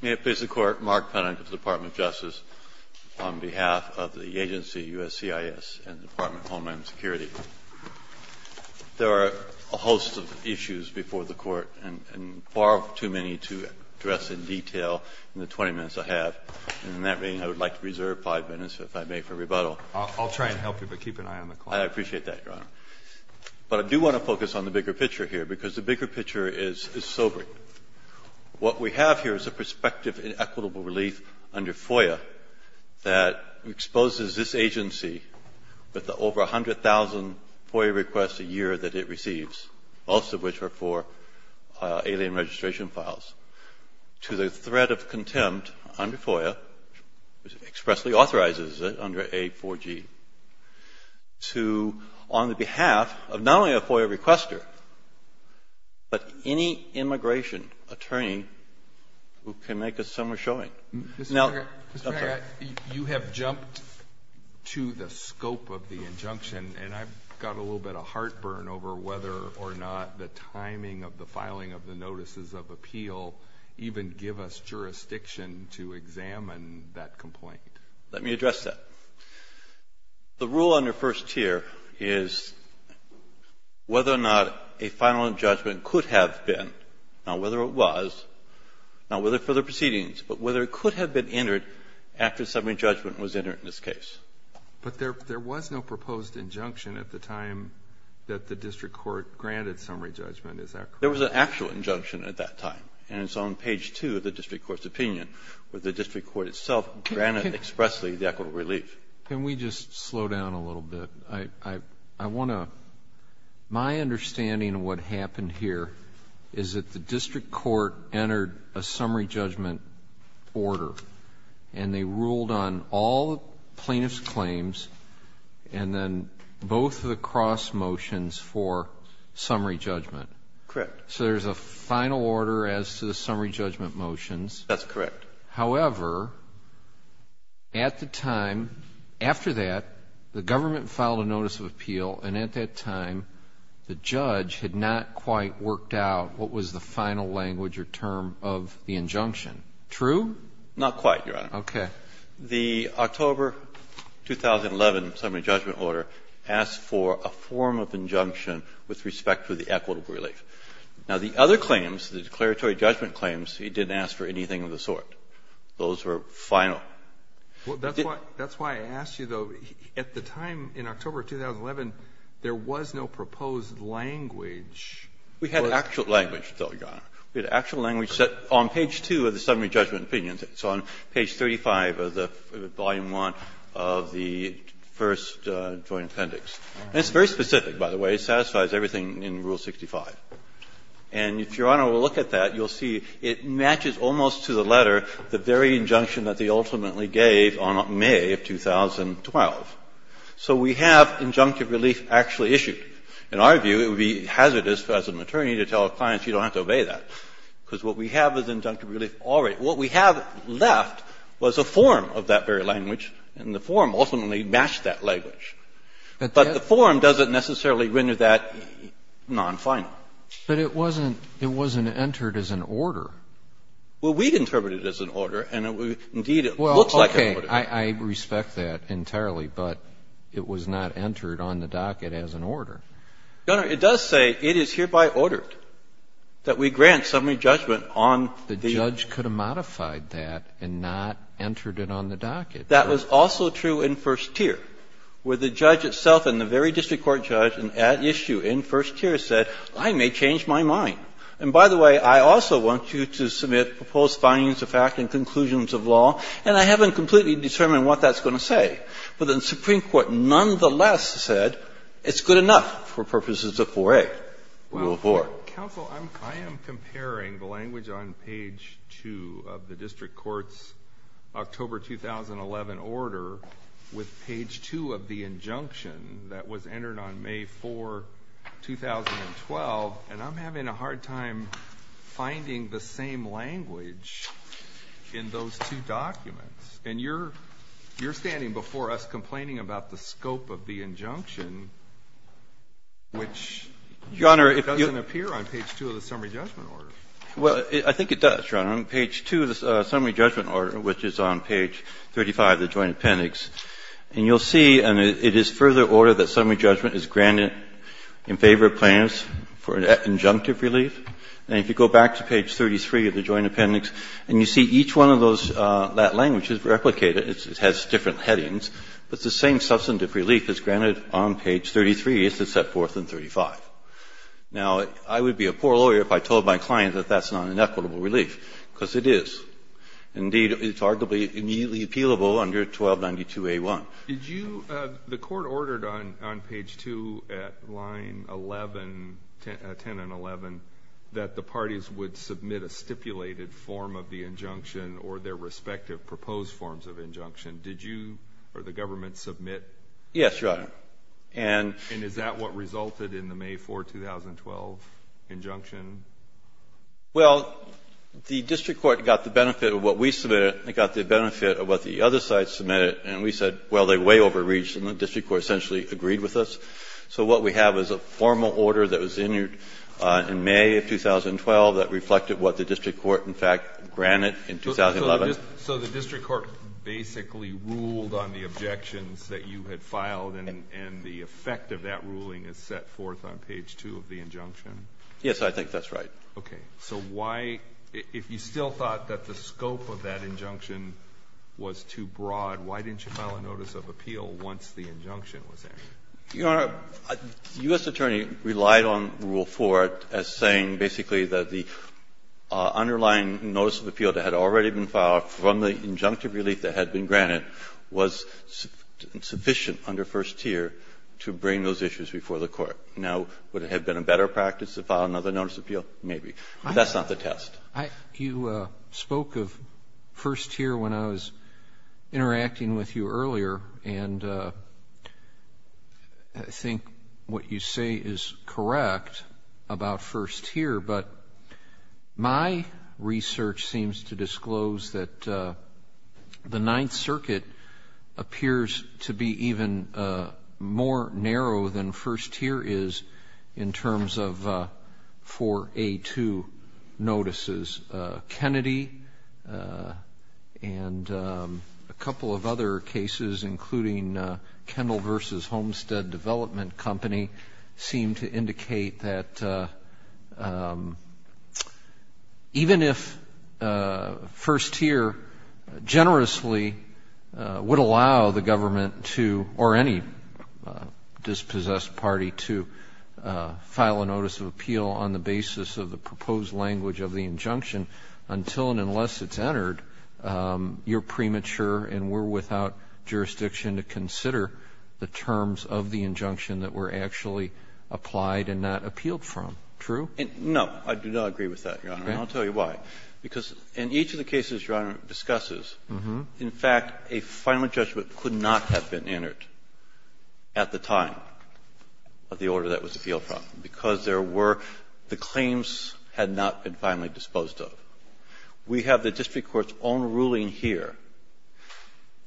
May it please the Court, Mark Pennant of the Department of Justice, on behalf of the agency USCIS and the Department of Homeland Security. There are a host of issues before the Court, and far too many to address in detail in the 20 minutes I have. In that meeting, I would like to reserve 5 minutes, if I may, for rebuttal. I'll try and help you, but keep an eye on the clock. I appreciate that, Your Honor. But I do want to focus on the bigger picture here, because the bigger picture is sobering. What we have here is a prospective inequitable relief under FOIA that exposes this agency with the over 100,000 FOIA requests a year that it receives, most of which are for alien registration files, to the threat of contempt under FOIA, which expressly authorizes it under A4G, to, on the behalf of not only a FOIA requester, but any immigration attorney who can make a summer showing. Mr. Haggart, you have jumped to the scope of the injunction, and I've got a little bit of heartburn over whether or not the timing of the filing of the notices of appeal even give us jurisdiction to examine that complaint. Let me address that. The rule under first tier is whether or not a final judgment could have been, not whether it was, not whether for the proceedings, but whether it could have been entered after summary judgment was entered in this case. But there was no proposed injunction at the time that the district court granted summary judgment. Is that correct? There was an actual injunction at that time, and it's on page 2 of the district court's opinion, where the district court itself granted expressly the equitable relief. Can we just slow down a little bit? I want to my understanding of what happened here is that the district court entered a summary judgment order, and they ruled on all plaintiff's claims and then both of the cross motions for summary judgment. Correct. So there's a final order as to the summary judgment motions. That's correct. However, at the time, after that, the government filed a notice of appeal, and at that time, the judge had not quite worked out what was the final language or term of the injunction. True? Not quite, Your Honor. Okay. The October 2011 summary judgment order asked for a form of injunction with respect to the equitable relief. Now, the other claims, the declaratory judgment claims, it didn't ask for anything of the sort. Those were final. That's why I asked you, though. At the time, in October 2011, there was no proposed language. We had actual language, though, Your Honor. We had actual language set on page 2 of the summary judgment opinion. It's on page 35 of the volume 1 of the first joint appendix. And it's very specific, by the way. It satisfies everything in Rule 65. And if Your Honor will look at that, you'll see it matches almost to the letter the very injunction that they ultimately gave on May of 2012. So we have injunctive relief actually issued. In our view, it would be hazardous as an attorney to tell a client, you don't have to obey that, because what we have is injunctive relief already. What we have left was a form of that very language, and the form ultimately matched that language. But the form doesn't necessarily render that non-final. But it wasn't entered as an order. Well, we'd interpret it as an order, and, indeed, it looks like an order. Well, okay. I respect that entirely, but it was not entered on the docket as an order. Your Honor, it does say it is hereby ordered that we grant summary judgment on the ---- The judge could have modified that and not entered it on the docket. That was also true in first tier, where the judge itself and the very district court judge at issue in first tier said, I may change my mind. And, by the way, I also want you to submit proposed findings of fact and conclusions of law, and I haven't completely determined what that's going to say. But the Supreme Court nonetheless said it's good enough for purposes of 4A, Rule I am comparing the language on page 2 of the district court's October 2011 order with page 2 of the injunction that was entered on May 4, 2012, and I'm having a hard time finding the same language in those two documents. And you're standing before us complaining about the scope of the injunction, which doesn't appear on page 2 of the summary judgment order. Well, I think it does, Your Honor. On page 2 of the summary judgment order, which is on page 35 of the Joint Appendix, and you'll see it is further ordered that summary judgment is granted in favor of plaintiffs for injunctive relief. And if you go back to page 33 of the Joint Appendix and you see each one of those that language is replicated. It has different headings. But the same substantive relief is granted on page 33 as it's set forth in 35. Now, I would be a poor lawyer if I told my client that that's not an equitable relief, because it is. Indeed, it's arguably immediately appealable under 1292a1. The Court ordered on page 2 at line 11, 10 and 11, that the parties would submit a stipulated form of the injunction or their respective proposed forms of injunction. Did you or the government submit? Yes, Your Honor. And is that what resulted in the May 4, 2012, injunction? Well, the district court got the benefit of what we submitted. It got the benefit of what the other side submitted. And we said, well, they're way overreached. And the district court essentially agreed with us. So what we have is a formal order that was entered in May of 2012 that reflected what the district court, in fact, granted in 2011. So the district court basically ruled on the objections that you had filed and the effect of that ruling is set forth on page 2 of the injunction? Yes, I think that's right. Okay. So why — if you still thought that the scope of that injunction was too broad, why didn't you file a notice of appeal once the injunction was entered? Your Honor, the U.S. attorney relied on Rule 4 as saying basically that the — that the underlying notice of appeal that had already been filed from the injunctive relief that had been granted was sufficient under first tier to bring those issues before the Court. Now, would it have been a better practice to file another notice of appeal? Maybe. But that's not the test. You spoke of first tier when I was interacting with you earlier, and I think what you say is correct about first tier, but my research seems to disclose that the Ninth Circuit appears to be even more narrow than first tier is in terms of 4A2 notices. Kennedy and a couple of other cases, including Kendall v. Homestead Development Company, seem to indicate that even if first tier generously would allow the government to — or any dispossessed party to file a notice of appeal on the basis of the proposed language of the injunction until and unless it's entered, you're premature and we're actually applied and not appealed from. True? No. I do not agree with that, Your Honor. Okay. And I'll tell you why. Because in each of the cases Your Honor discusses, in fact, a final judgment could not have been entered at the time of the order that was appealed from because there were — the claims had not been finally disposed of. We have the district court's own ruling here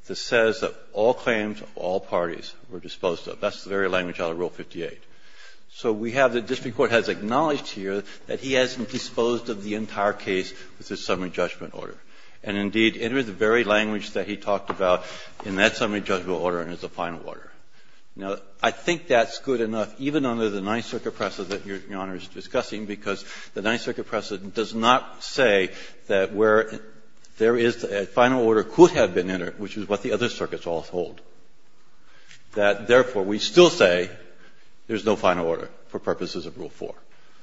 that says that all claims of all parties were disposed of. That's the very language out of Rule 58. So we have the district court has acknowledged here that he hasn't disposed of the entire case with this summary judgment order. And indeed, it is the very language that he talked about in that summary judgment order and as a final order. Now, I think that's good enough, even under the Ninth Circuit precedent that Your Honor is discussing, because the Ninth Circuit precedent does not say that where there is a final order could have been entered, which is what the other circuits all hold. That, therefore, we still say there is no final order for purposes of Rule 4.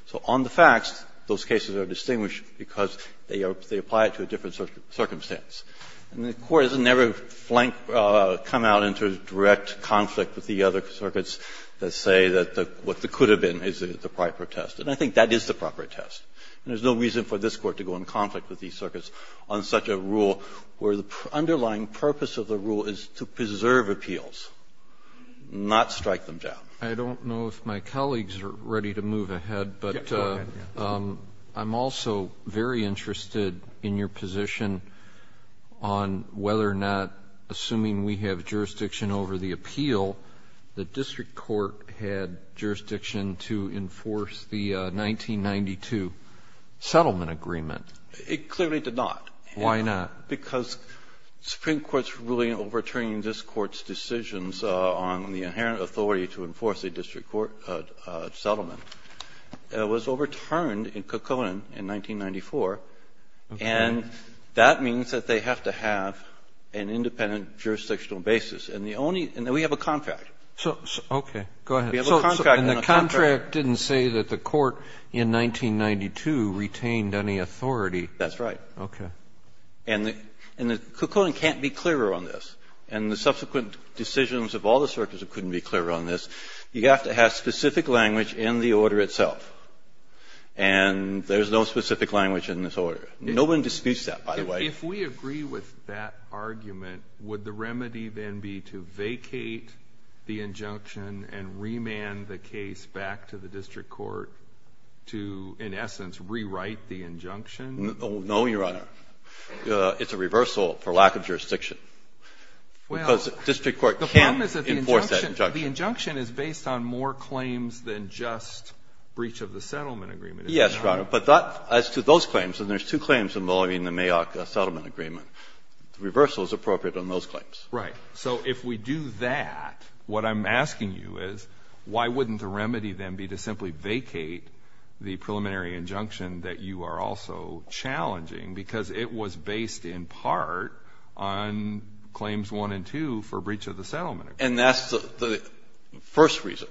So on the facts, those cases are distinguished because they are — they apply it to a different circumstance. And the Court has never flanked — come out into direct conflict with the other circuits that say that the — what could have been is the proper test. And I think that is the proper test. And there's no reason for this Court to go in conflict with these circuits on such a rule, where the underlying purpose of the rule is to preserve appeals, not strike them down. I don't know if my colleagues are ready to move ahead, but I'm also very interested in your position on whether or not, assuming we have jurisdiction over the appeal, the district court had jurisdiction to enforce the 1992 settlement agreement. It clearly did not. Why not? Because Supreme Court's ruling overturning this Court's decisions on the inherent authority to enforce a district court settlement was overturned in Kekkonen in 1994. And that means that they have to have an independent jurisdictional basis. And the only — and then we have a contract. So — okay. Go ahead. We have a contract. And the contract didn't say that the Court in 1992 retained any authority. That's right. Okay. And the — and the — Kekkonen can't be clearer on this. And the subsequent decisions of all the circuits couldn't be clearer on this. You have to have specific language in the order itself. And there's no specific language in this order. No one disputes that, by the way. If we agree with that argument, would the remedy then be to vacate the injunction and remand the case back to the district court to, in essence, rewrite the injunction? No, Your Honor. It's a reversal for lack of jurisdiction. Well — Because district court can't enforce that injunction. The problem is that the injunction is based on more claims than just breach of the settlement agreement, if I'm not wrong. Yes, Your Honor. But that — as to those claims, and there's two claims involving the Mayock settlement agreement, the reversal is appropriate on those claims. Right. So if we do that, what I'm asking you is, why wouldn't the remedy then be to simply vacate the preliminary injunction that you are also challenging, because it was based in part on claims 1 and 2 for breach of the settlement agreement? And that's the first reason.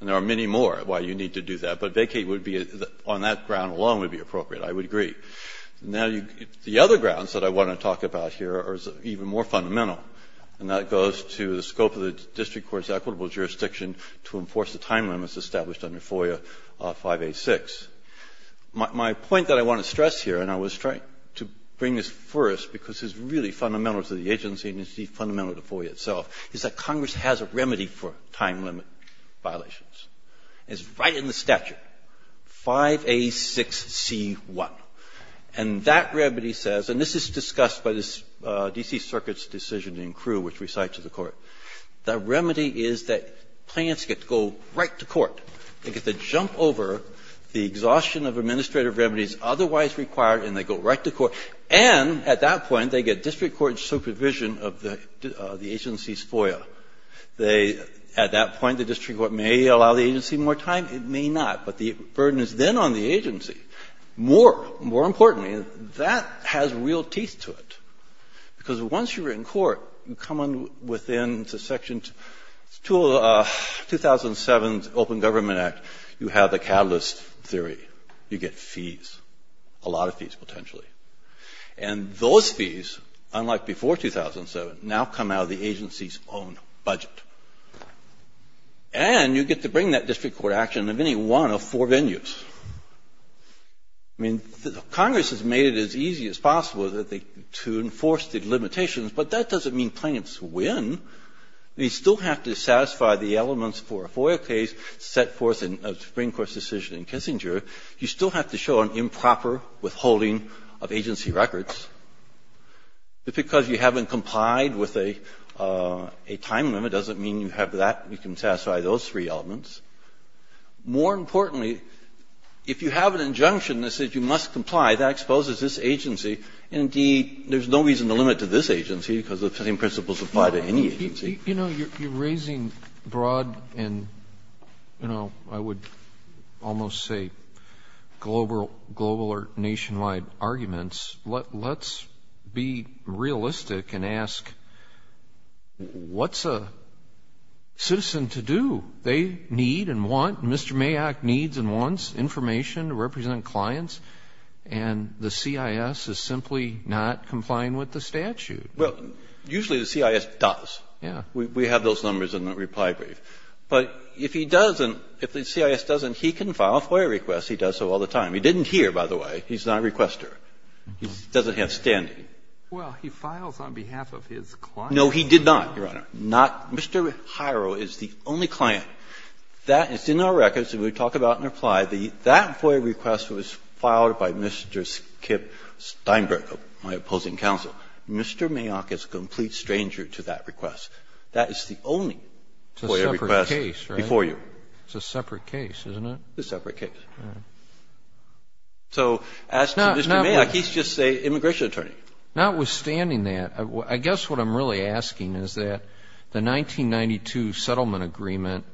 And there are many more why you need to do that. But vacate would be — on that ground alone would be appropriate. I would agree. Now, the other grounds that I want to talk about here are even more fundamental, and that goes to the scope of the district court's equitable jurisdiction to enforce the time limits established under FOIA 5A-6. My point that I want to stress here, and I was trying to bring this first because it's really fundamental to the agency and it's fundamental to FOIA itself, is that Congress has a remedy for time limit violations. It's right in the statute, 5A-6C-1. And that remedy says, and this is discussed by the D.C. Circuit's decision in Crewe, which we cite to the Court. The remedy is that clients get to go right to court. They get to jump over the exhaustion of administrative remedies otherwise required, and they go right to court. And at that point, they get district court supervision of the agency's FOIA. They — at that point, the district court may allow the agency more time. It may not. But the burden is then on the agency. More — more importantly, that has real teeth to it, because once you're in court, you come within the section to — to 2007's Open Government Act, you have the Catalyst Theory. You get fees, a lot of fees potentially. And those fees, unlike before 2007, now come out of the agency's own budget. And you get to bring that district court action in any one of four venues. I mean, Congress has made it as easy as possible that they — to enforce the limitations, but that doesn't mean clients win. They still have to satisfy the elements for a FOIA case set forth in a Supreme Court's decision in Kissinger. You still have to show an improper withholding of agency records. Just because you haven't complied with a — a time limit doesn't mean you have that — you can satisfy those three elements. More importantly, if you have an injunction that says you must comply, that exposes this agency. Indeed, there's no reason to limit to this agency because the same principles apply to any agency. You know, you're raising broad and, you know, I would almost say global or nationwide arguments. Let's be realistic and ask, what's a citizen to do? They need and want — Mr. Mayak needs and wants information to represent clients. And the CIS is simply not complying with the statute. Well, usually the CIS does. Yeah. We have those numbers in the reply brief. But if he doesn't, if the CIS doesn't, he can file a FOIA request. He does so all the time. He didn't here, by the way. He's not a requester. He doesn't have standing. Well, he files on behalf of his client. No, he did not, Your Honor. Not — Mr. Hiro is the only client. That is in our records, and we talk about and apply. That FOIA request was filed by Mr. Skip Steinberg, my opposing counsel. Mr. Mayak is a complete stranger to that request. That is the only FOIA request before you. It's a separate case, isn't it? It's a separate case. So as to Mr. Mayak, he's just an immigration attorney. Notwithstanding that, I guess what I'm really asking is that the 1992 settlement agreement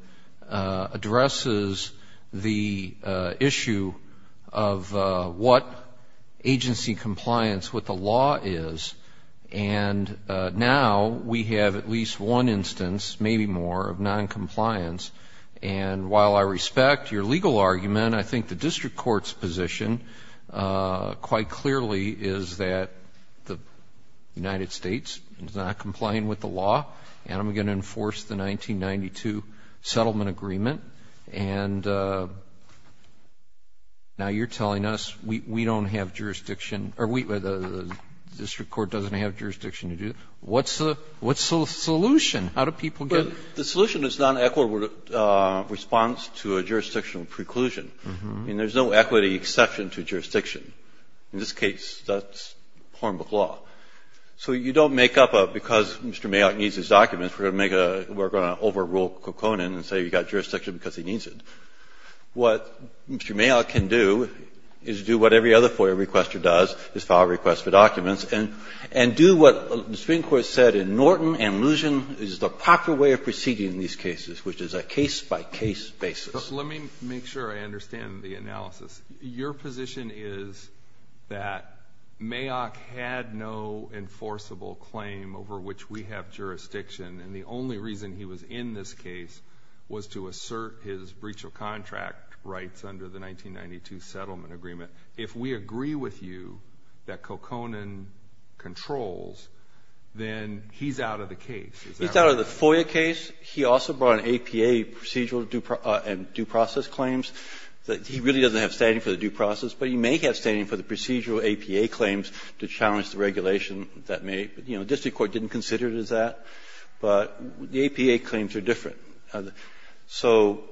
addresses the issue of what agency compliance with the law is. And now we have at least one instance, maybe more, of noncompliance. And while I respect your legal argument, I think the district court's position quite clearly is that the United States is not complying with the law. And I'm going to enforce the 1992 settlement agreement. And now you're telling us we don't have jurisdiction, or the district court doesn't have jurisdiction to do it. What's the solution? How do people get — The solution is non-equitable response to a jurisdictional preclusion. I mean, there's no equity exception to jurisdiction. In this case, that's Hornbook law. So you don't make up a, because Mr. Mayak needs his documents, we're going to make a — we're going to overrule Kokonin and say you've got jurisdiction because he needs it. What Mr. Mayak can do is do what every other FOIA requester does, is file a request for documents, and do what the Supreme Court said in Norton and Luzon is the proper way of proceeding in these cases, which is a case-by-case basis. Let me make sure I understand the analysis. Your position is that Mayak had no enforceable claim over which we have jurisdiction, and the only reason he was in this case was to assert his breach of contract rights under the 1992 settlement agreement. If we agree with you that Kokonin controls, then he's out of the case. He's out of the FOIA case. He also brought an APA procedural and due process claims. He really doesn't have standing for the due process, but he may have standing for the procedural APA claims to challenge the regulation that may — you know, district court didn't consider it as that, but the APA claims are different. So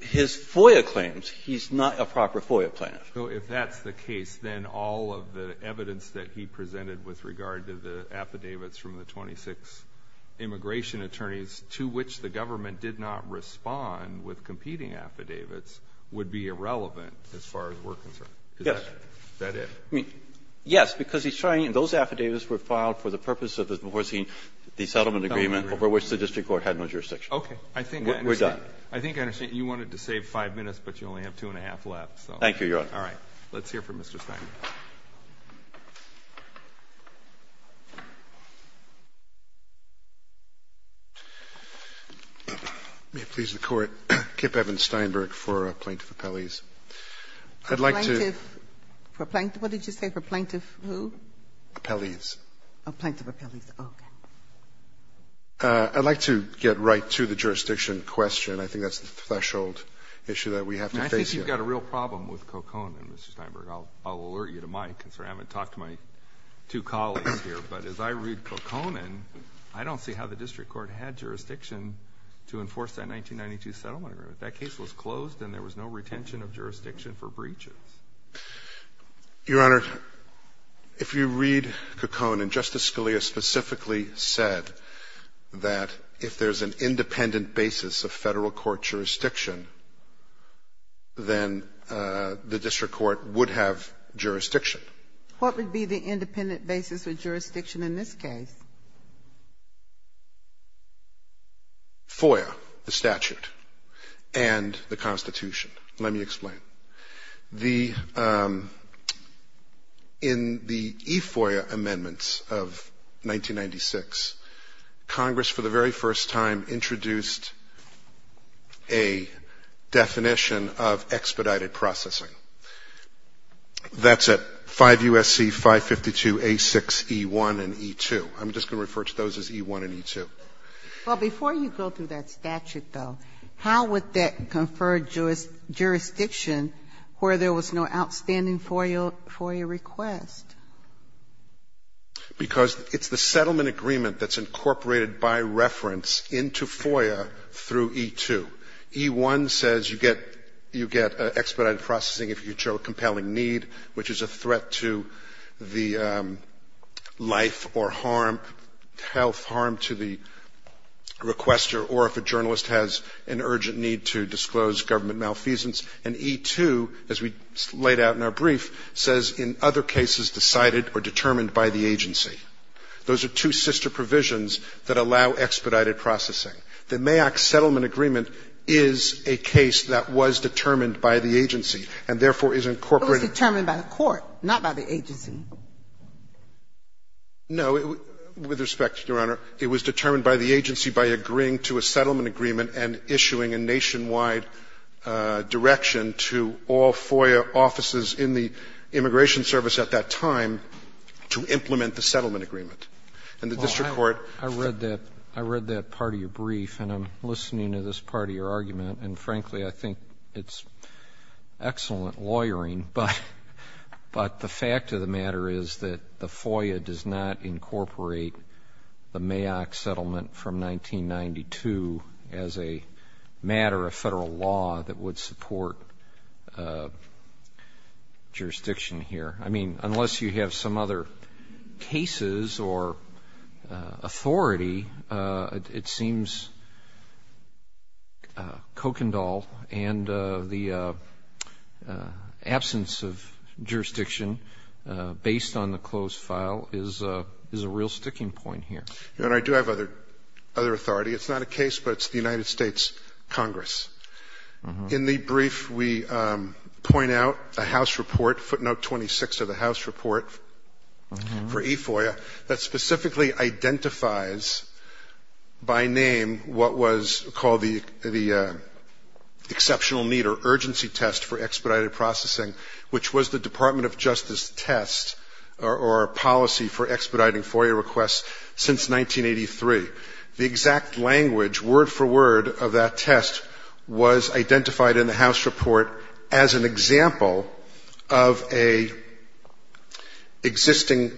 his FOIA claims, he's not a proper FOIA plaintiff. So if that's the case, then all of the evidence that he presented with regard to the affidavits from the 26 immigration attorneys to which the government did not respond with competing affidavits would be irrelevant as far as we're Verrilli, yes, because he's trying — and those affidavits were filed for the purpose of enforcing the settlement agreement over which the district court had no jurisdiction. Okay. I think I understand. We're done. I think I understand. You wanted to save 5 minutes, but you only have two and a half left, so. Thank you, Your Honor. All right. Let's hear from Mr. Stein. May it please the Court, Kip Evans-Steinberg for Plaintiff Appellees. I'd like to — For Plaintiff — what did you say, for Plaintiff who? Appellees. Oh, Plaintiff Appellees. Okay. I'd like to get right to the jurisdiction question. I think that's the threshold issue that we have to face here. I think you've got a real problem with Coconin, Mr. Steinberg. I'll alert you to my concern. I haven't talked to my two colleagues here. But as I read Coconin, I don't see how the district court had jurisdiction to enforce that 1992 settlement agreement. That case was closed, and there was no retention of jurisdiction for breaches. Your Honor, if you read Coconin, Justice Scalia specifically said that if there's an independent basis of federal court jurisdiction, then the district court would have jurisdiction. What would be the independent basis of jurisdiction in this case? FOIA, the statute, and the Constitution. Let me explain. The — in the e-FOIA amendments of 1996, Congress for the very first time introduced a definition of expedited processing. That's at 5 U.S.C. 552 A6 E1 and E2. I'm just going to refer to those as E1 and E2. Well, before you go through that statute, though, how would that confer jurisdiction where there was no outstanding FOIA request? Because it's the settlement agreement that's incorporated by reference into FOIA through E2. E1 says you get — you get expedited processing if you show a compelling need, which is a threat to the life or harm — health harm to the requester, or if a journalist has an urgent need to disclose government malfeasance. And E2, as we laid out in our brief, says in other cases decided or determined by the agency. Those are two sister provisions that allow expedited processing. The MAAC settlement agreement is a case that was determined by the agency, and therefore is incorporated — It was determined by the court, not by the agency. No. With respect, Your Honor, it was determined by the agency by agreeing to a settlement agreement and issuing a nationwide direction to all FOIA offices in the immigration service at that time to implement the settlement agreement. And the district court — Well, I read that — I read that part of your brief, and I'm listening to this part of your argument. And frankly, I think it's excellent lawyering, but the fact of the matter is that the FOIA does not incorporate the MAAC settlement from 1992 as a matter of Federal law that would support jurisdiction here. I mean, unless you have some other cases or authority, it seems Kokendall and the absence of jurisdiction based on the closed file is a real sticking point here. Your Honor, I do have other authority. It's not a case, but it's the United States Congress. In the brief, we point out a House report, footnote 26 of the House report for e-FOIA that specifically identifies by name what was called the exceptional need or urgency test for expedited processing, which was the Department of Justice test or policy for expediting FOIA requests since 1983. The exact language, word for word, of that test was identified in the House report as an example of an existing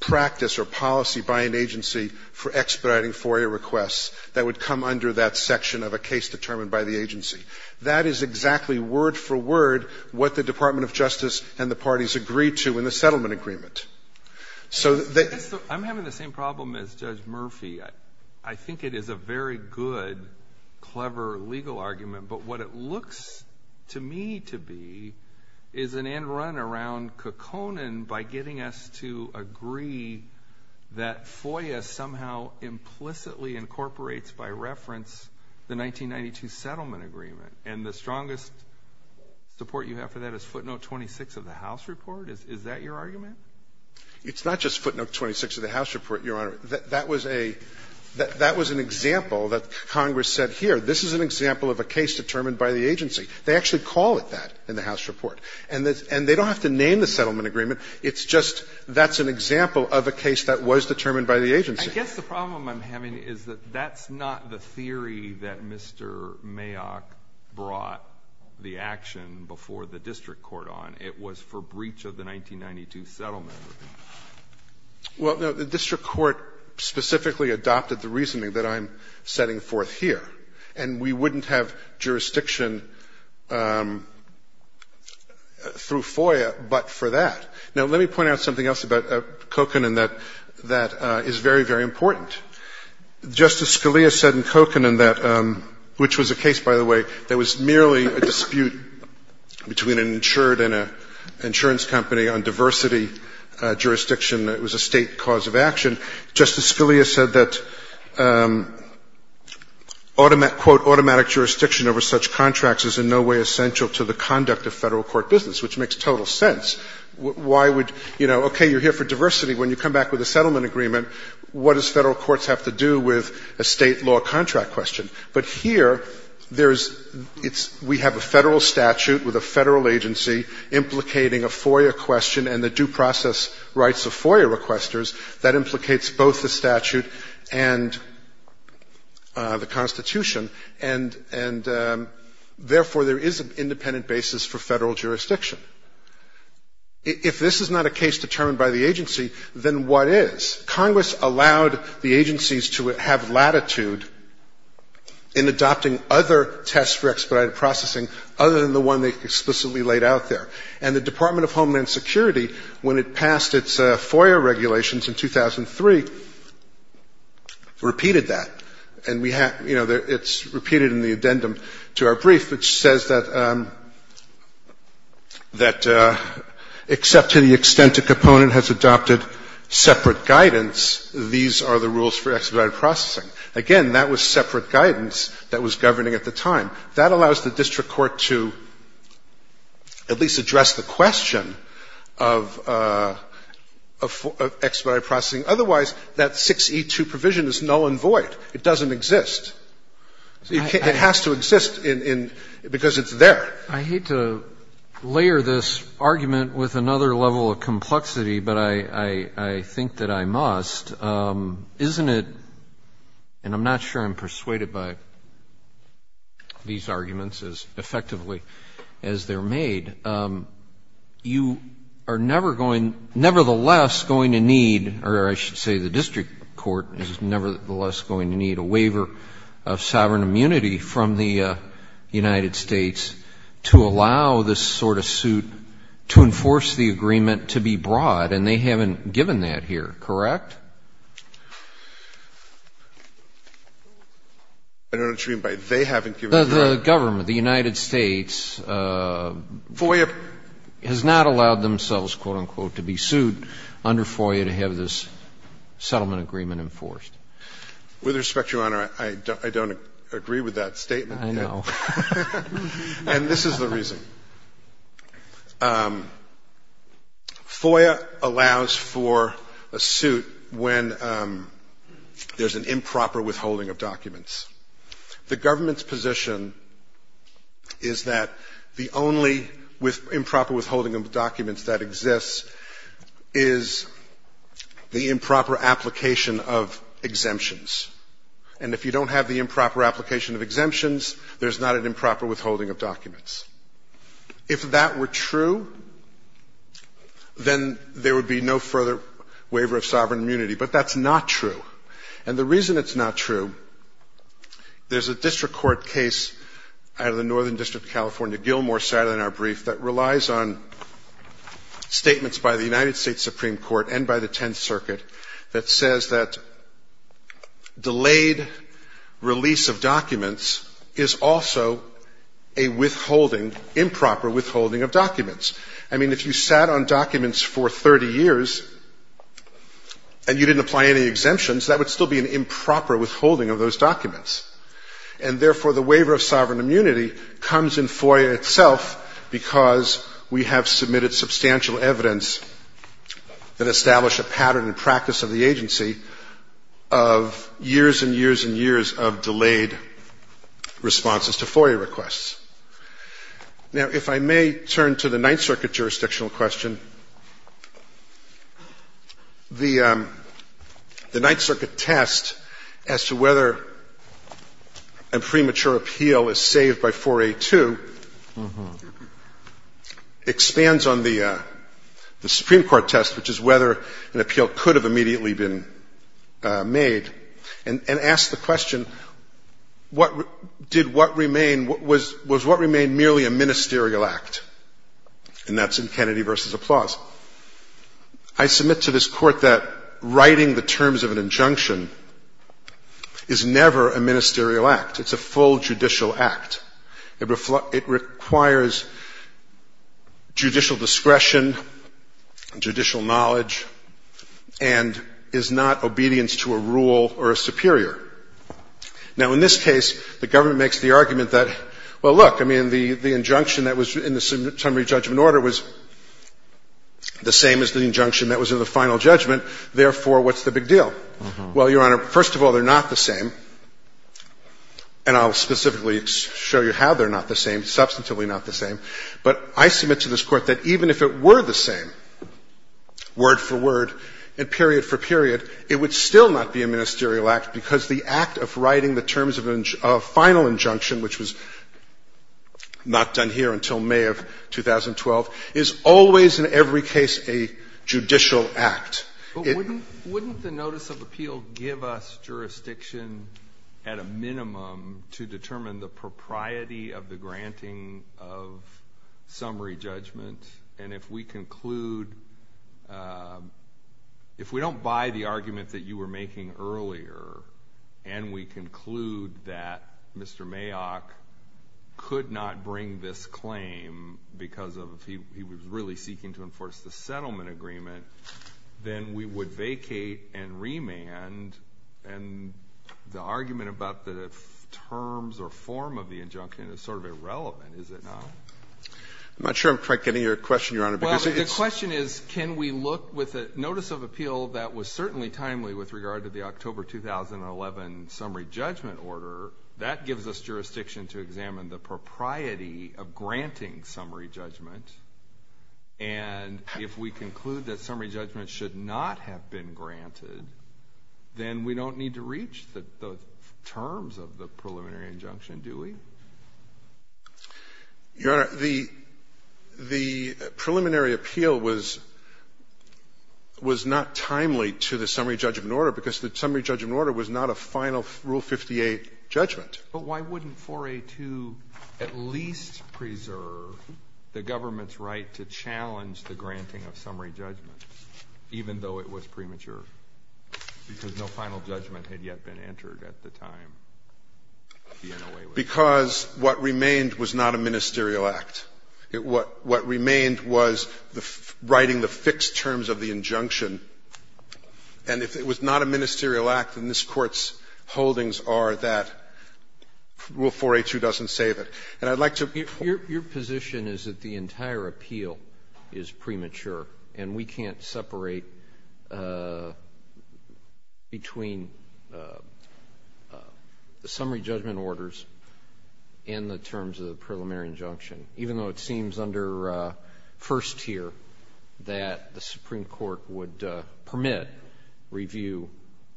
practice or policy by an agency for expediting FOIA requests that would come under that section of a case determined by the agency. That is exactly, word for word, what the Department of Justice and the parties agreed to in the settlement agreement. So I'm having the same problem as Judge Murphy. I think it is a very good, clever legal argument. But what it looks to me to be is an end run around Kokonen by getting us to agree that FOIA somehow implicitly incorporates by reference the 1992 settlement agreement. And the strongest support you have for that is footnote 26 of the House report. Is that your argument? It's not just footnote 26 of the House report, Your Honor. That was an example that Congress set here. This is an example of a case determined by the agency. They actually call it that in the House report. And they don't have to name the settlement agreement. It's just that's an example of a case that was determined by the agency. I guess the problem I'm having is that that's not the theory that Mr. Mayock brought the action before the district court on. It was for breach of the 1992 settlement agreement. Well, no. The district court specifically adopted the reasoning that I'm setting forth here. And we wouldn't have jurisdiction through FOIA but for that. Now, let me point out something else about Kokonen that is very, very important. Justice Scalia said in Kokonen that, which was a case, by the way, that was merely a dispute between an insured and an insurance company on diversity jurisdiction. It was a state cause of action. Justice Scalia said that, quote, automatic jurisdiction over such contracts is in no way essential to the conduct of federal court business, which makes total sense. Why would, you know, okay, you're here for diversity. When you come back with a settlement agreement, what does federal courts have to do with a state law contract question? But here, there's – it's – we have a federal statute with a federal agency implicating a FOIA question and the due process rights of FOIA requesters. That implicates both the statute and the Constitution. And therefore, there is an independent basis for federal jurisdiction. If this is not a case determined by the agency, then what is? Congress allowed the agencies to have latitude in adopting other tests for expedited processing other than the one they explicitly laid out there. And the Department of Homeland Security, when it passed its FOIA regulations in 2003, repeated that. And we have – you know, it's repeated in the addendum to our brief, which says that except to the extent a component has adopted separate guidance, these are the rules for expedited processing. Again, that was separate guidance that was governing at the time. That allows the district court to at least address the question of expedited processing. Otherwise, that 6E2 provision is null and void. It doesn't exist. It has to exist in – because it's there. I hate to layer this argument with another level of complexity, but I think that I must. Isn't it – and I'm not sure I'm persuaded by these arguments as effectively as they're made – you are never going – nevertheless going to need – or I should say the district court is nevertheless going to need a waiver of sovereign immunity from the United States to allow this sort of suit to enforce the agreement to be brought. And they haven't given that here, correct? I don't know what you mean by they haven't given that. The government, the United States, has not allowed themselves, quote, unquote, to be sued under FOIA to have this settlement agreement enforced. With respect, Your Honor, I don't agree with that statement. I know. And this is the reason. FOIA allows for a suit when there's an improper withholding of documents. The government's position is that the only improper withholding of documents that exists is the improper application of exemptions. And if you don't have the improper application of exemptions, there's not an improper withholding of documents. If that were true, then there would be no further waiver of sovereign immunity. But that's not true. And the reason it's not true, there's a district court case out of the Northern District of California, Gilmore, cited in our brief that relies on statements by the delayed release of documents is also a withholding, improper withholding of documents. I mean, if you sat on documents for 30 years and you didn't apply any exemptions, that would still be an improper withholding of those documents. And therefore, the waiver of sovereign immunity comes in FOIA itself because we have submitted substantial evidence that establish a pattern and practice of the agency of years and years and years of delayed responses to FOIA requests. Now, if I may turn to the Ninth Circuit jurisdictional question. The Ninth Circuit test as to whether a premature appeal is saved by 4A2 expands on the Supreme Court test, which is whether an appeal could have immediately been made, and asks the question, what did what remain, was what remain merely a ministerial act? And that's in Kennedy v. Applause. I submit to this Court that writing the terms of an injunction is never a ministerial act. It's a full judicial act. It requires judicial discretion, judicial knowledge, and is not obedience to a rule or a superior. Now, in this case, the government makes the argument that, well, look, I mean, the injunction that was in the summary judgment order was the same as the injunction that was in the final judgment. Therefore, what's the big deal? Well, Your Honor, first of all, they're not the same. And I'll specifically show you how they're not the same. Substantively not the same. But I submit to this Court that even if it were the same, word for word and period for period, it would still not be a ministerial act, because the act of writing the terms of a final injunction, which was not done here until May of 2012, is always in every case a judicial act. Wouldn't the notice of appeal give us jurisdiction at a minimum to determine the propriety of the granting of summary judgment? And if we conclude, if we don't buy the argument that you were making earlier, and we conclude that Mr. Mayock could not bring this claim because he was really seeking to get a summary judgment, then we would vacate and remand, and the argument about the terms or form of the injunction is sort of irrelevant, is it not? I'm not sure I'm quite getting your question, Your Honor, because it's — Well, the question is, can we look with a notice of appeal that was certainly timely with regard to the October 2011 summary judgment order, that gives us jurisdiction to examine the propriety of granting summary judgment. And if we conclude that summary judgment should not have been granted, then we don't need to reach the terms of the preliminary injunction, do we? Your Honor, the preliminary appeal was not timely to the summary judgment order, because the summary judgment order was not a final Rule 58 judgment. But why wouldn't 4A.2 at least preserve the government's right to challenge the granting of summary judgment, even though it was premature, because no final judgment had yet been entered at the time the NOA was — Because what remained was not a ministerial act. What remained was writing the fixed terms of the injunction. And if it was not a ministerial act, then this Court's holdings are that Rule 482 doesn't save it. And I'd like to — Your position is that the entire appeal is premature, and we can't separate between the summary judgment orders and the terms of the preliminary injunction, even though it seems under first tier that the Supreme Court would permit review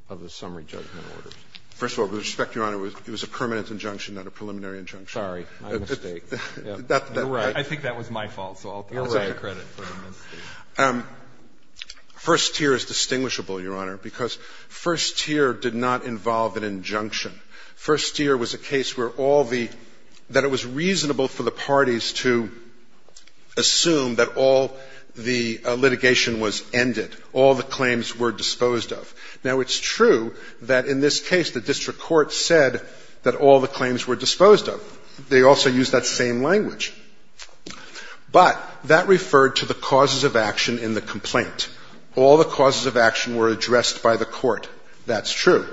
of the summary judgment orders. First of all, with respect, Your Honor, it was a permanent injunction, not a preliminary injunction. Sorry. My mistake. You're right. I think that was my fault, so I'll take the credit for the mistake. First tier is distinguishable, Your Honor, because first tier did not involve an injunction. First tier was a case where all the — that it was reasonable for the parties to assume that all the litigation was ended, all the claims were disposed of. Now, it's true that in this case the district court said that all the claims were disposed of. They also used that same language. But that referred to the causes of action in the complaint. All the causes of action were addressed by the court. That's true.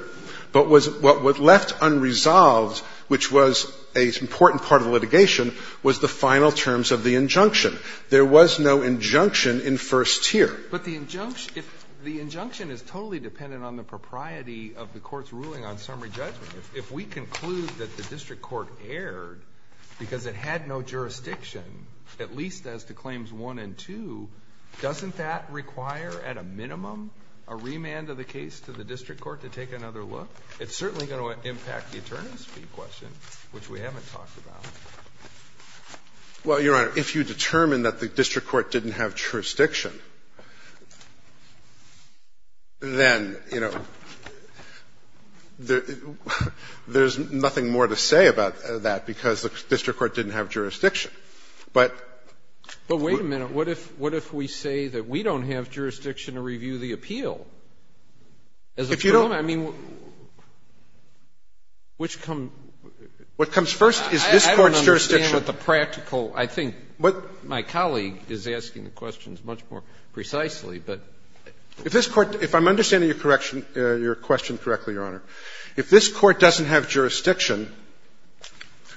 But what was left unresolved, which was an important part of the litigation, was the final terms of the injunction. There was no injunction in first tier. But the injunction is totally dependent on the propriety of the court's ruling on summary judgment. If we conclude that the district court erred because it had no jurisdiction, at least as to Claims 1 and 2, doesn't that require at a minimum a remand of the case to the district court to take another look? It's certainly going to impact the attorney's fee question, which we haven't talked about. Well, Your Honor, if you determine that the district court didn't have jurisdiction, then, you know, there's nothing more to say about that because the district court didn't have jurisdiction. But we — But wait a minute. What if we say that we don't have jurisdiction to review the appeal? If you don't, I mean, which comes — What comes first is this Court's jurisdiction. I don't understand what the practical — I think my colleague is asking the questions much more precisely, but — If this Court — if I'm understanding your question correctly, Your Honor, if this Court doesn't have jurisdiction,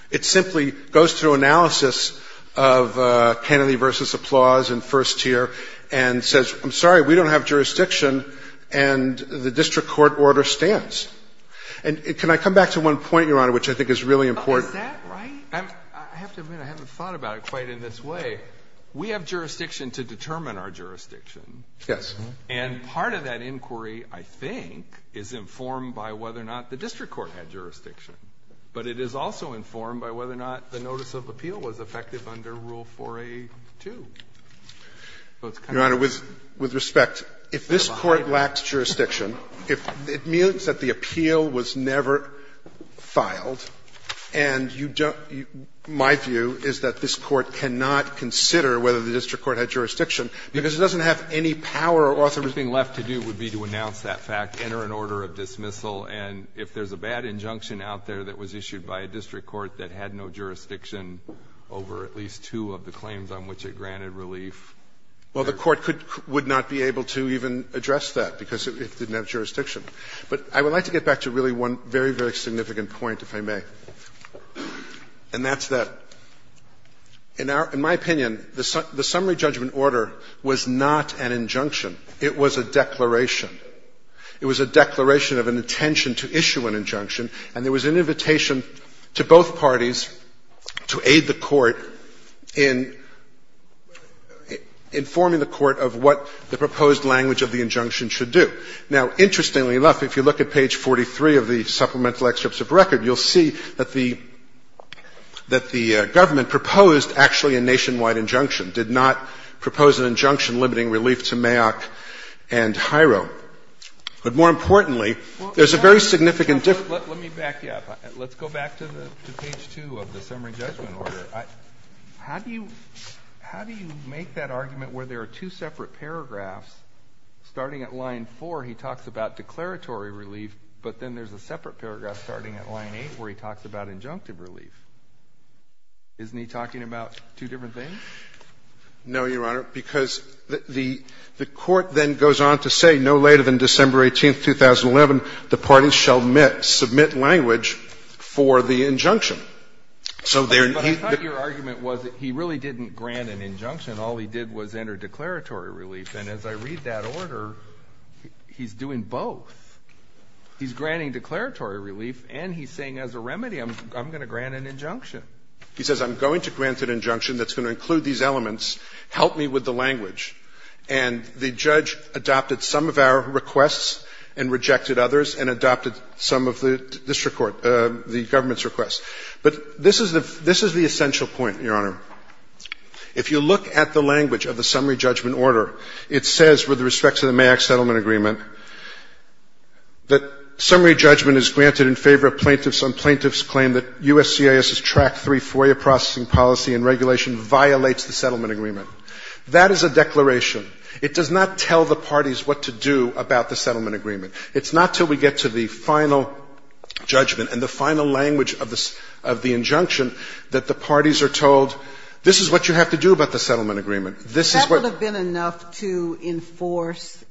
it simply goes through analysis of Kennedy v. Applause in first tier and says, I'm sorry, we don't have jurisdiction, and the district court order stands. And can I come back to one point, Your Honor, which I think is really important? Is that right? I have to admit I haven't thought about it quite in this way. We have jurisdiction to determine our jurisdiction. Yes. And part of that inquiry, I think, is informed by whether or not the district court had jurisdiction. But it is also informed by whether or not the notice of appeal was effective under Rule 4a.2. Your Honor, with respect, if this Court lacks jurisdiction, if it means that the appeal was never filed, and you don't — my view is that this Court cannot consider whether the district court had jurisdiction, because it doesn't have any power or authority. The only thing left to do would be to announce that fact, enter an order of dismissal. And if there's a bad injunction out there that was issued by a district court that had no jurisdiction over at least two of the claims on which it granted relief — Well, the Court could — would not be able to even address that, because it didn't have jurisdiction. But I would like to get back to really one very, very significant point, if I may. And that's that, in our — in my opinion, the summary judgment order was not an injunction. It was a declaration. It was a declaration of an intention to issue an injunction. And there was an invitation to both parties to aid the Court in informing the Court of what the proposed language of the injunction should do. Now, interestingly enough, if you look at page 43 of the supplemental excerpts of record, you'll see that the — that the government proposed actually a nationwide injunction, did not propose an injunction limiting relief to Mayock and Hireau. But more importantly, there's a very significant difference. Let me back you up. Let's go back to the — to page 2 of the summary judgment order. How do you — how do you make that argument where there are two separate paragraphs? Starting at line 4, he talks about declaratory relief, but then there's a separate paragraph starting at line 8 where he talks about injunctive relief. Isn't he talking about two different things? No, Your Honor, because the — the Court then goes on to say, no later than December 18th, 2011, the parties shall submit language for the injunction. So there — But I thought your argument was that he really didn't grant an injunction. All he did was enter declaratory relief. And as I read that order, he's doing both. He's granting declaratory relief, and he's saying as a remedy, I'm going to grant an injunction. He says, I'm going to grant an injunction that's going to include these elements. Help me with the language. And the judge adopted some of our requests and rejected others and adopted some of the district court — the government's requests. But this is the — this is the essential point, Your Honor. If you look at the language of the summary judgment order, it says, with respect to the MAAC settlement agreement, that summary judgment is granted in favor of plaintiffs on plaintiffs' claim that USCIS's Track 3 FOIA processing policy and regulation violates the settlement agreement. That is a declaration. It does not tell the parties what to do about the settlement agreement. It's not until we get to the final judgment and the final language of the injunction that the parties are told, this is what you have to do about the settlement agreement. This is what — That would have been enough to enforce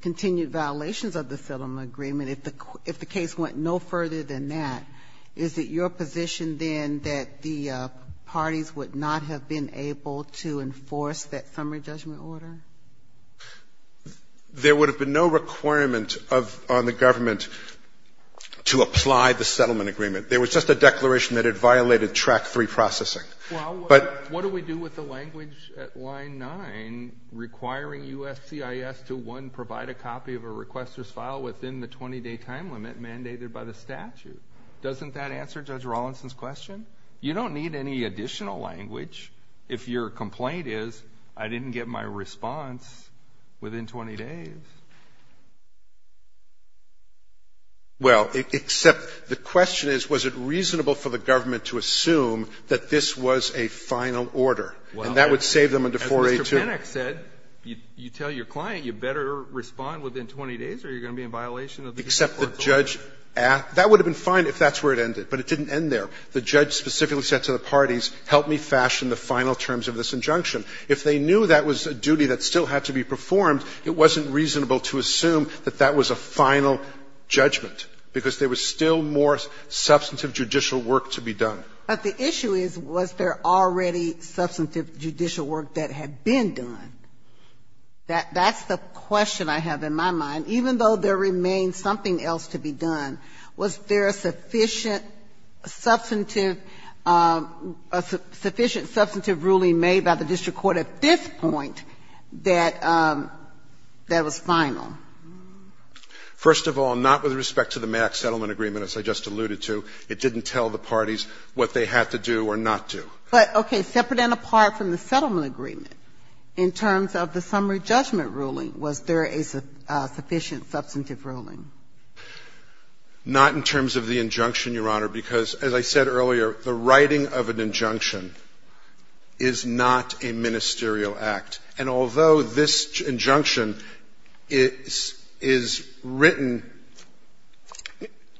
continued violations of the settlement agreement if the case went no further than that. Is it your position, then, that the parties would not have been able to enforce that summary judgment order? There would have been no requirement of — on the government to apply the settlement agreement. There was just a declaration that it violated Track 3 processing. Well, what do we do with the language at line 9 requiring USCIS to, one, provide a copy of a requester's file within the 20-day time limit mandated by the statute? Doesn't that answer Judge Rawlinson's question? You don't need any additional language if your complaint is, I didn't get my response within 20 days. Well, except the question is, was it reasonable for the government to assume that this was a final order, and that would save them under 4A2? Well, as Mr. Pinnock said, you tell your client, you better respond within 20 days or you're going to be in violation of the 4A2. Except the judge — that would have been fine if that's where it ended, but it didn't end there. The judge specifically said to the parties, help me fashion the final terms of this injunction. If they knew that was a duty that still had to be performed, it wasn't reasonable to assume that that was a final judgment, because there was still more substantive judicial work to be done. But the issue is, was there already substantive judicial work that had been done? That's the question I have in my mind. Even though there remains something else to be done, was there a sufficient substantive — a sufficient substantive ruling made by the district court at this point that — that was final? First of all, not with respect to the Max Settlement Agreement, as I just alluded to. It didn't tell the parties what they had to do or not do. But, okay, separate and apart from the settlement agreement, in terms of the summary judgment ruling, was there a sufficient substantive ruling? Not in terms of the injunction, Your Honor, because as I said earlier, the writing of an injunction is not a ministerial act. And although this injunction is — is written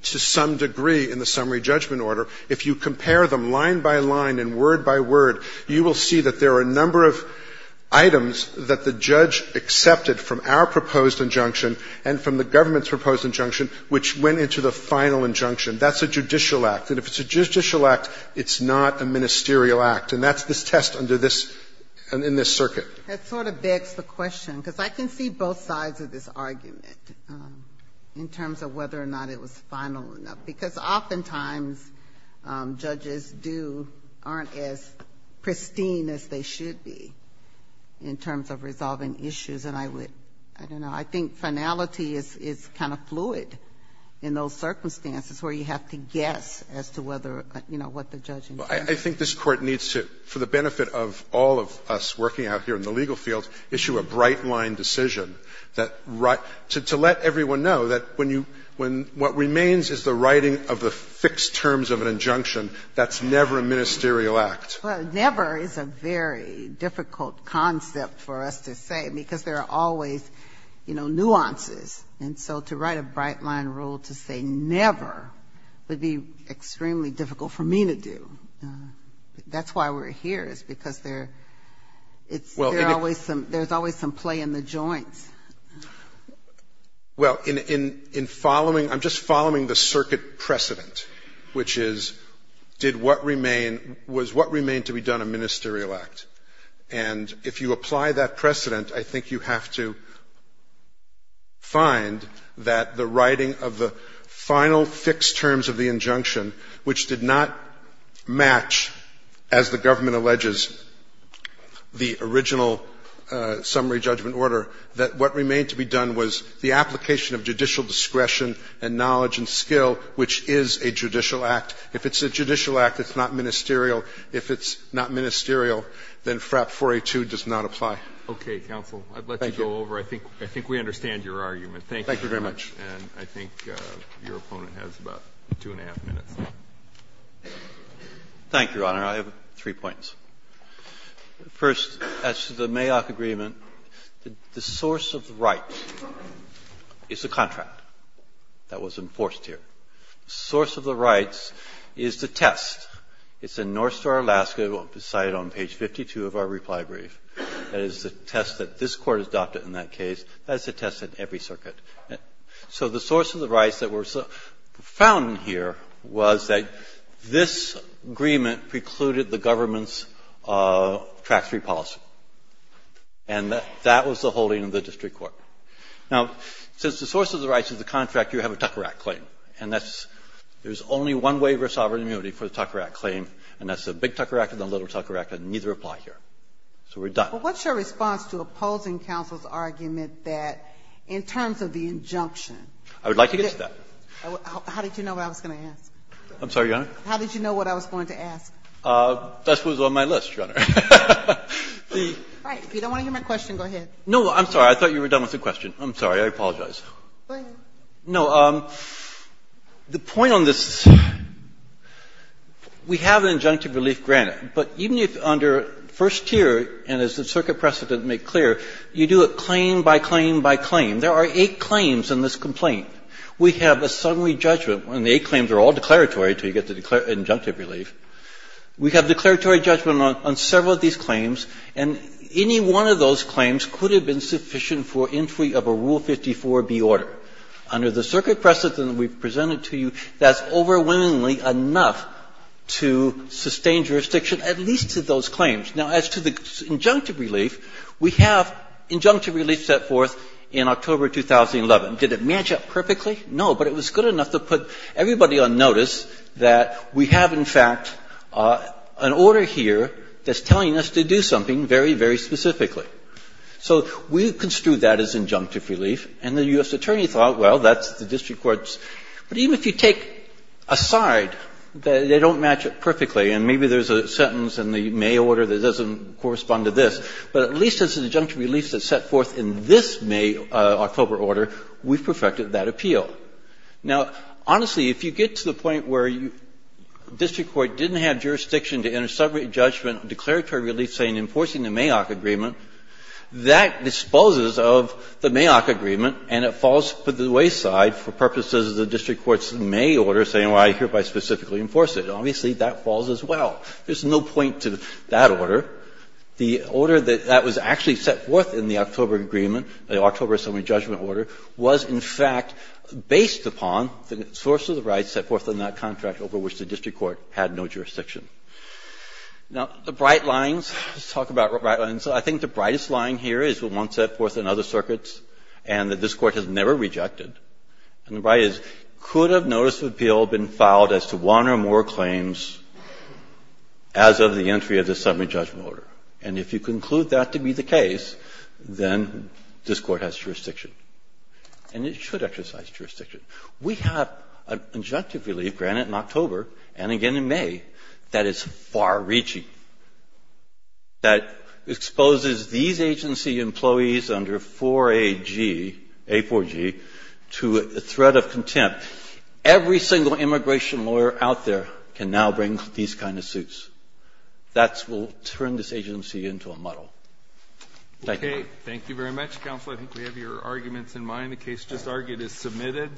to some degree in the summary judgment order, if you compare them line by line and word by word, you will see that there are a number of items that the judge accepted from our proposed injunction and from the government's proposed injunction, which went into the final injunction. That's a judicial act. And if it's a judicial act, it's not a ministerial act. And that's this test under this — in this circuit. That sort of begs the question, because I can see both sides of this argument in terms of whether or not it was final enough. Because oftentimes judges do — aren't as pristine as they should be in terms of resolving issues, and I would — I don't know. I think finality is kind of fluid in those circumstances where you have to guess as to whether, you know, what the judge intended. I think this Court needs to, for the benefit of all of us working out here in the legal field, issue a bright-line decision that — to let everyone know that when you — when — what remains is the writing of the fixed terms of an injunction. That's never a ministerial act. Well, never is a very difficult concept for us to say, because there are always, you know, nuances. And so to write a bright-line rule to say never would be extremely difficult for me to do. That's why we're here, is because there's always some play in the joints. Well, in following — I'm just following the circuit precedent, which is, did what remain — was what remain to be done a ministerial act? And if you apply that precedent, I think you have to find that the writing of the final fixed terms of the injunction, which did not match, as the government alleges, the original summary judgment order, that what remained to be done was the application of judicial discretion and knowledge and skill, which is a judicial act. If it's a judicial act, it's not ministerial. If it's not ministerial, then FRAP 482 does not apply. Roberts. Okay, counsel. Thank you. I'd let you go over. I think we understand your argument. Thank you very much. And I think your opponent has about two and a half minutes. Thank you, Your Honor. I have three points. First, as to the Mayock agreement, the source of the rights is the contract that was enforced here. The source of the rights is the test. It's in North Star, Alaska. It's cited on page 52 of our reply brief. That is the test that this Court adopted in that case. That is the test in every circuit. So the source of the rights that were found here was that this agreement precluded the government's Tract III policy. And that was the holding of the district court. Now, since the source of the rights is the contract, you have a Tucker Act claim. And that's there's only one waiver of sovereign immunity for the Tucker Act claim, and that's the Big Tucker Act and the Little Tucker Act, and neither apply here. So we're done. Sotomayor, what is your response to opposing counsel's argument that in terms of the injunction? I would like to get to that. How did you know what I was going to ask? I'm sorry, Your Honor? How did you know what I was going to ask? That's what was on my list, Your Honor. All right. If you don't want to hear my question, go ahead. No, I'm sorry. I thought you were done with the question. I'm sorry. Go ahead. No. The point on this is we have an injunctive relief granted. But even if under first tier, and as the circuit precedent made clear, you do it claim by claim by claim. There are eight claims in this complaint. We have a summary judgment, and the eight claims are all declaratory until you get the injunctive relief. We have declaratory judgment on several of these claims, and any one of those claims could have been sufficient for entry of a Rule 54b order. Under the circuit precedent we've presented to you, that's overwhelmingly enough to sustain jurisdiction at least to those claims. Now, as to the injunctive relief, we have injunctive relief set forth in October 2011. Did it match up perfectly? No. But it was good enough to put everybody on notice that we have, in fact, an order here that's telling us to do something very, very specifically. So we construed that as injunctive relief, and the U.S. Attorney thought, well, that's the district court's. But even if you take aside that they don't match it perfectly, and maybe there's a sentence in the May order that doesn't correspond to this, but at least it's an injunctive relief that's set forth in this May, October order, we've perfected that appeal. Now, honestly, if you get to the point where district court didn't have jurisdiction to enter separate judgment on declaratory relief, say, in enforcing the Mayock agreement, that disposes of the Mayock agreement, and it falls to the wayside for purposes of the district court's May order saying, well, I hereby specifically enforce it. Obviously, that falls as well. There's no point to that order. The order that that was actually set forth in the October agreement, the October assembly judgment order, was in fact based upon the source of the rights set forth in that contract over which the district court had no jurisdiction. Now, the bright lines, let's talk about the bright lines. I think the brightest line here is what was set forth in other circuits and that this Court has never rejected. And the bright is, could a notice of appeal have been filed as to one or more claims as of the entry of the assembly judgment order? And if you conclude that to be the case, then this Court has jurisdiction. And it should exercise jurisdiction. We have an injunctive relief granted in October, and again in May, that is far reaching, that exposes these agency employees under 4AG, A4G, to a threat of contempt. Every single immigration lawyer out there can now bring these kind of suits. That will turn this agency into a muddle. Thank you. Thank you very much, Counsel. I think we have your arguments in mind. The case just argued is submitted. Thank you.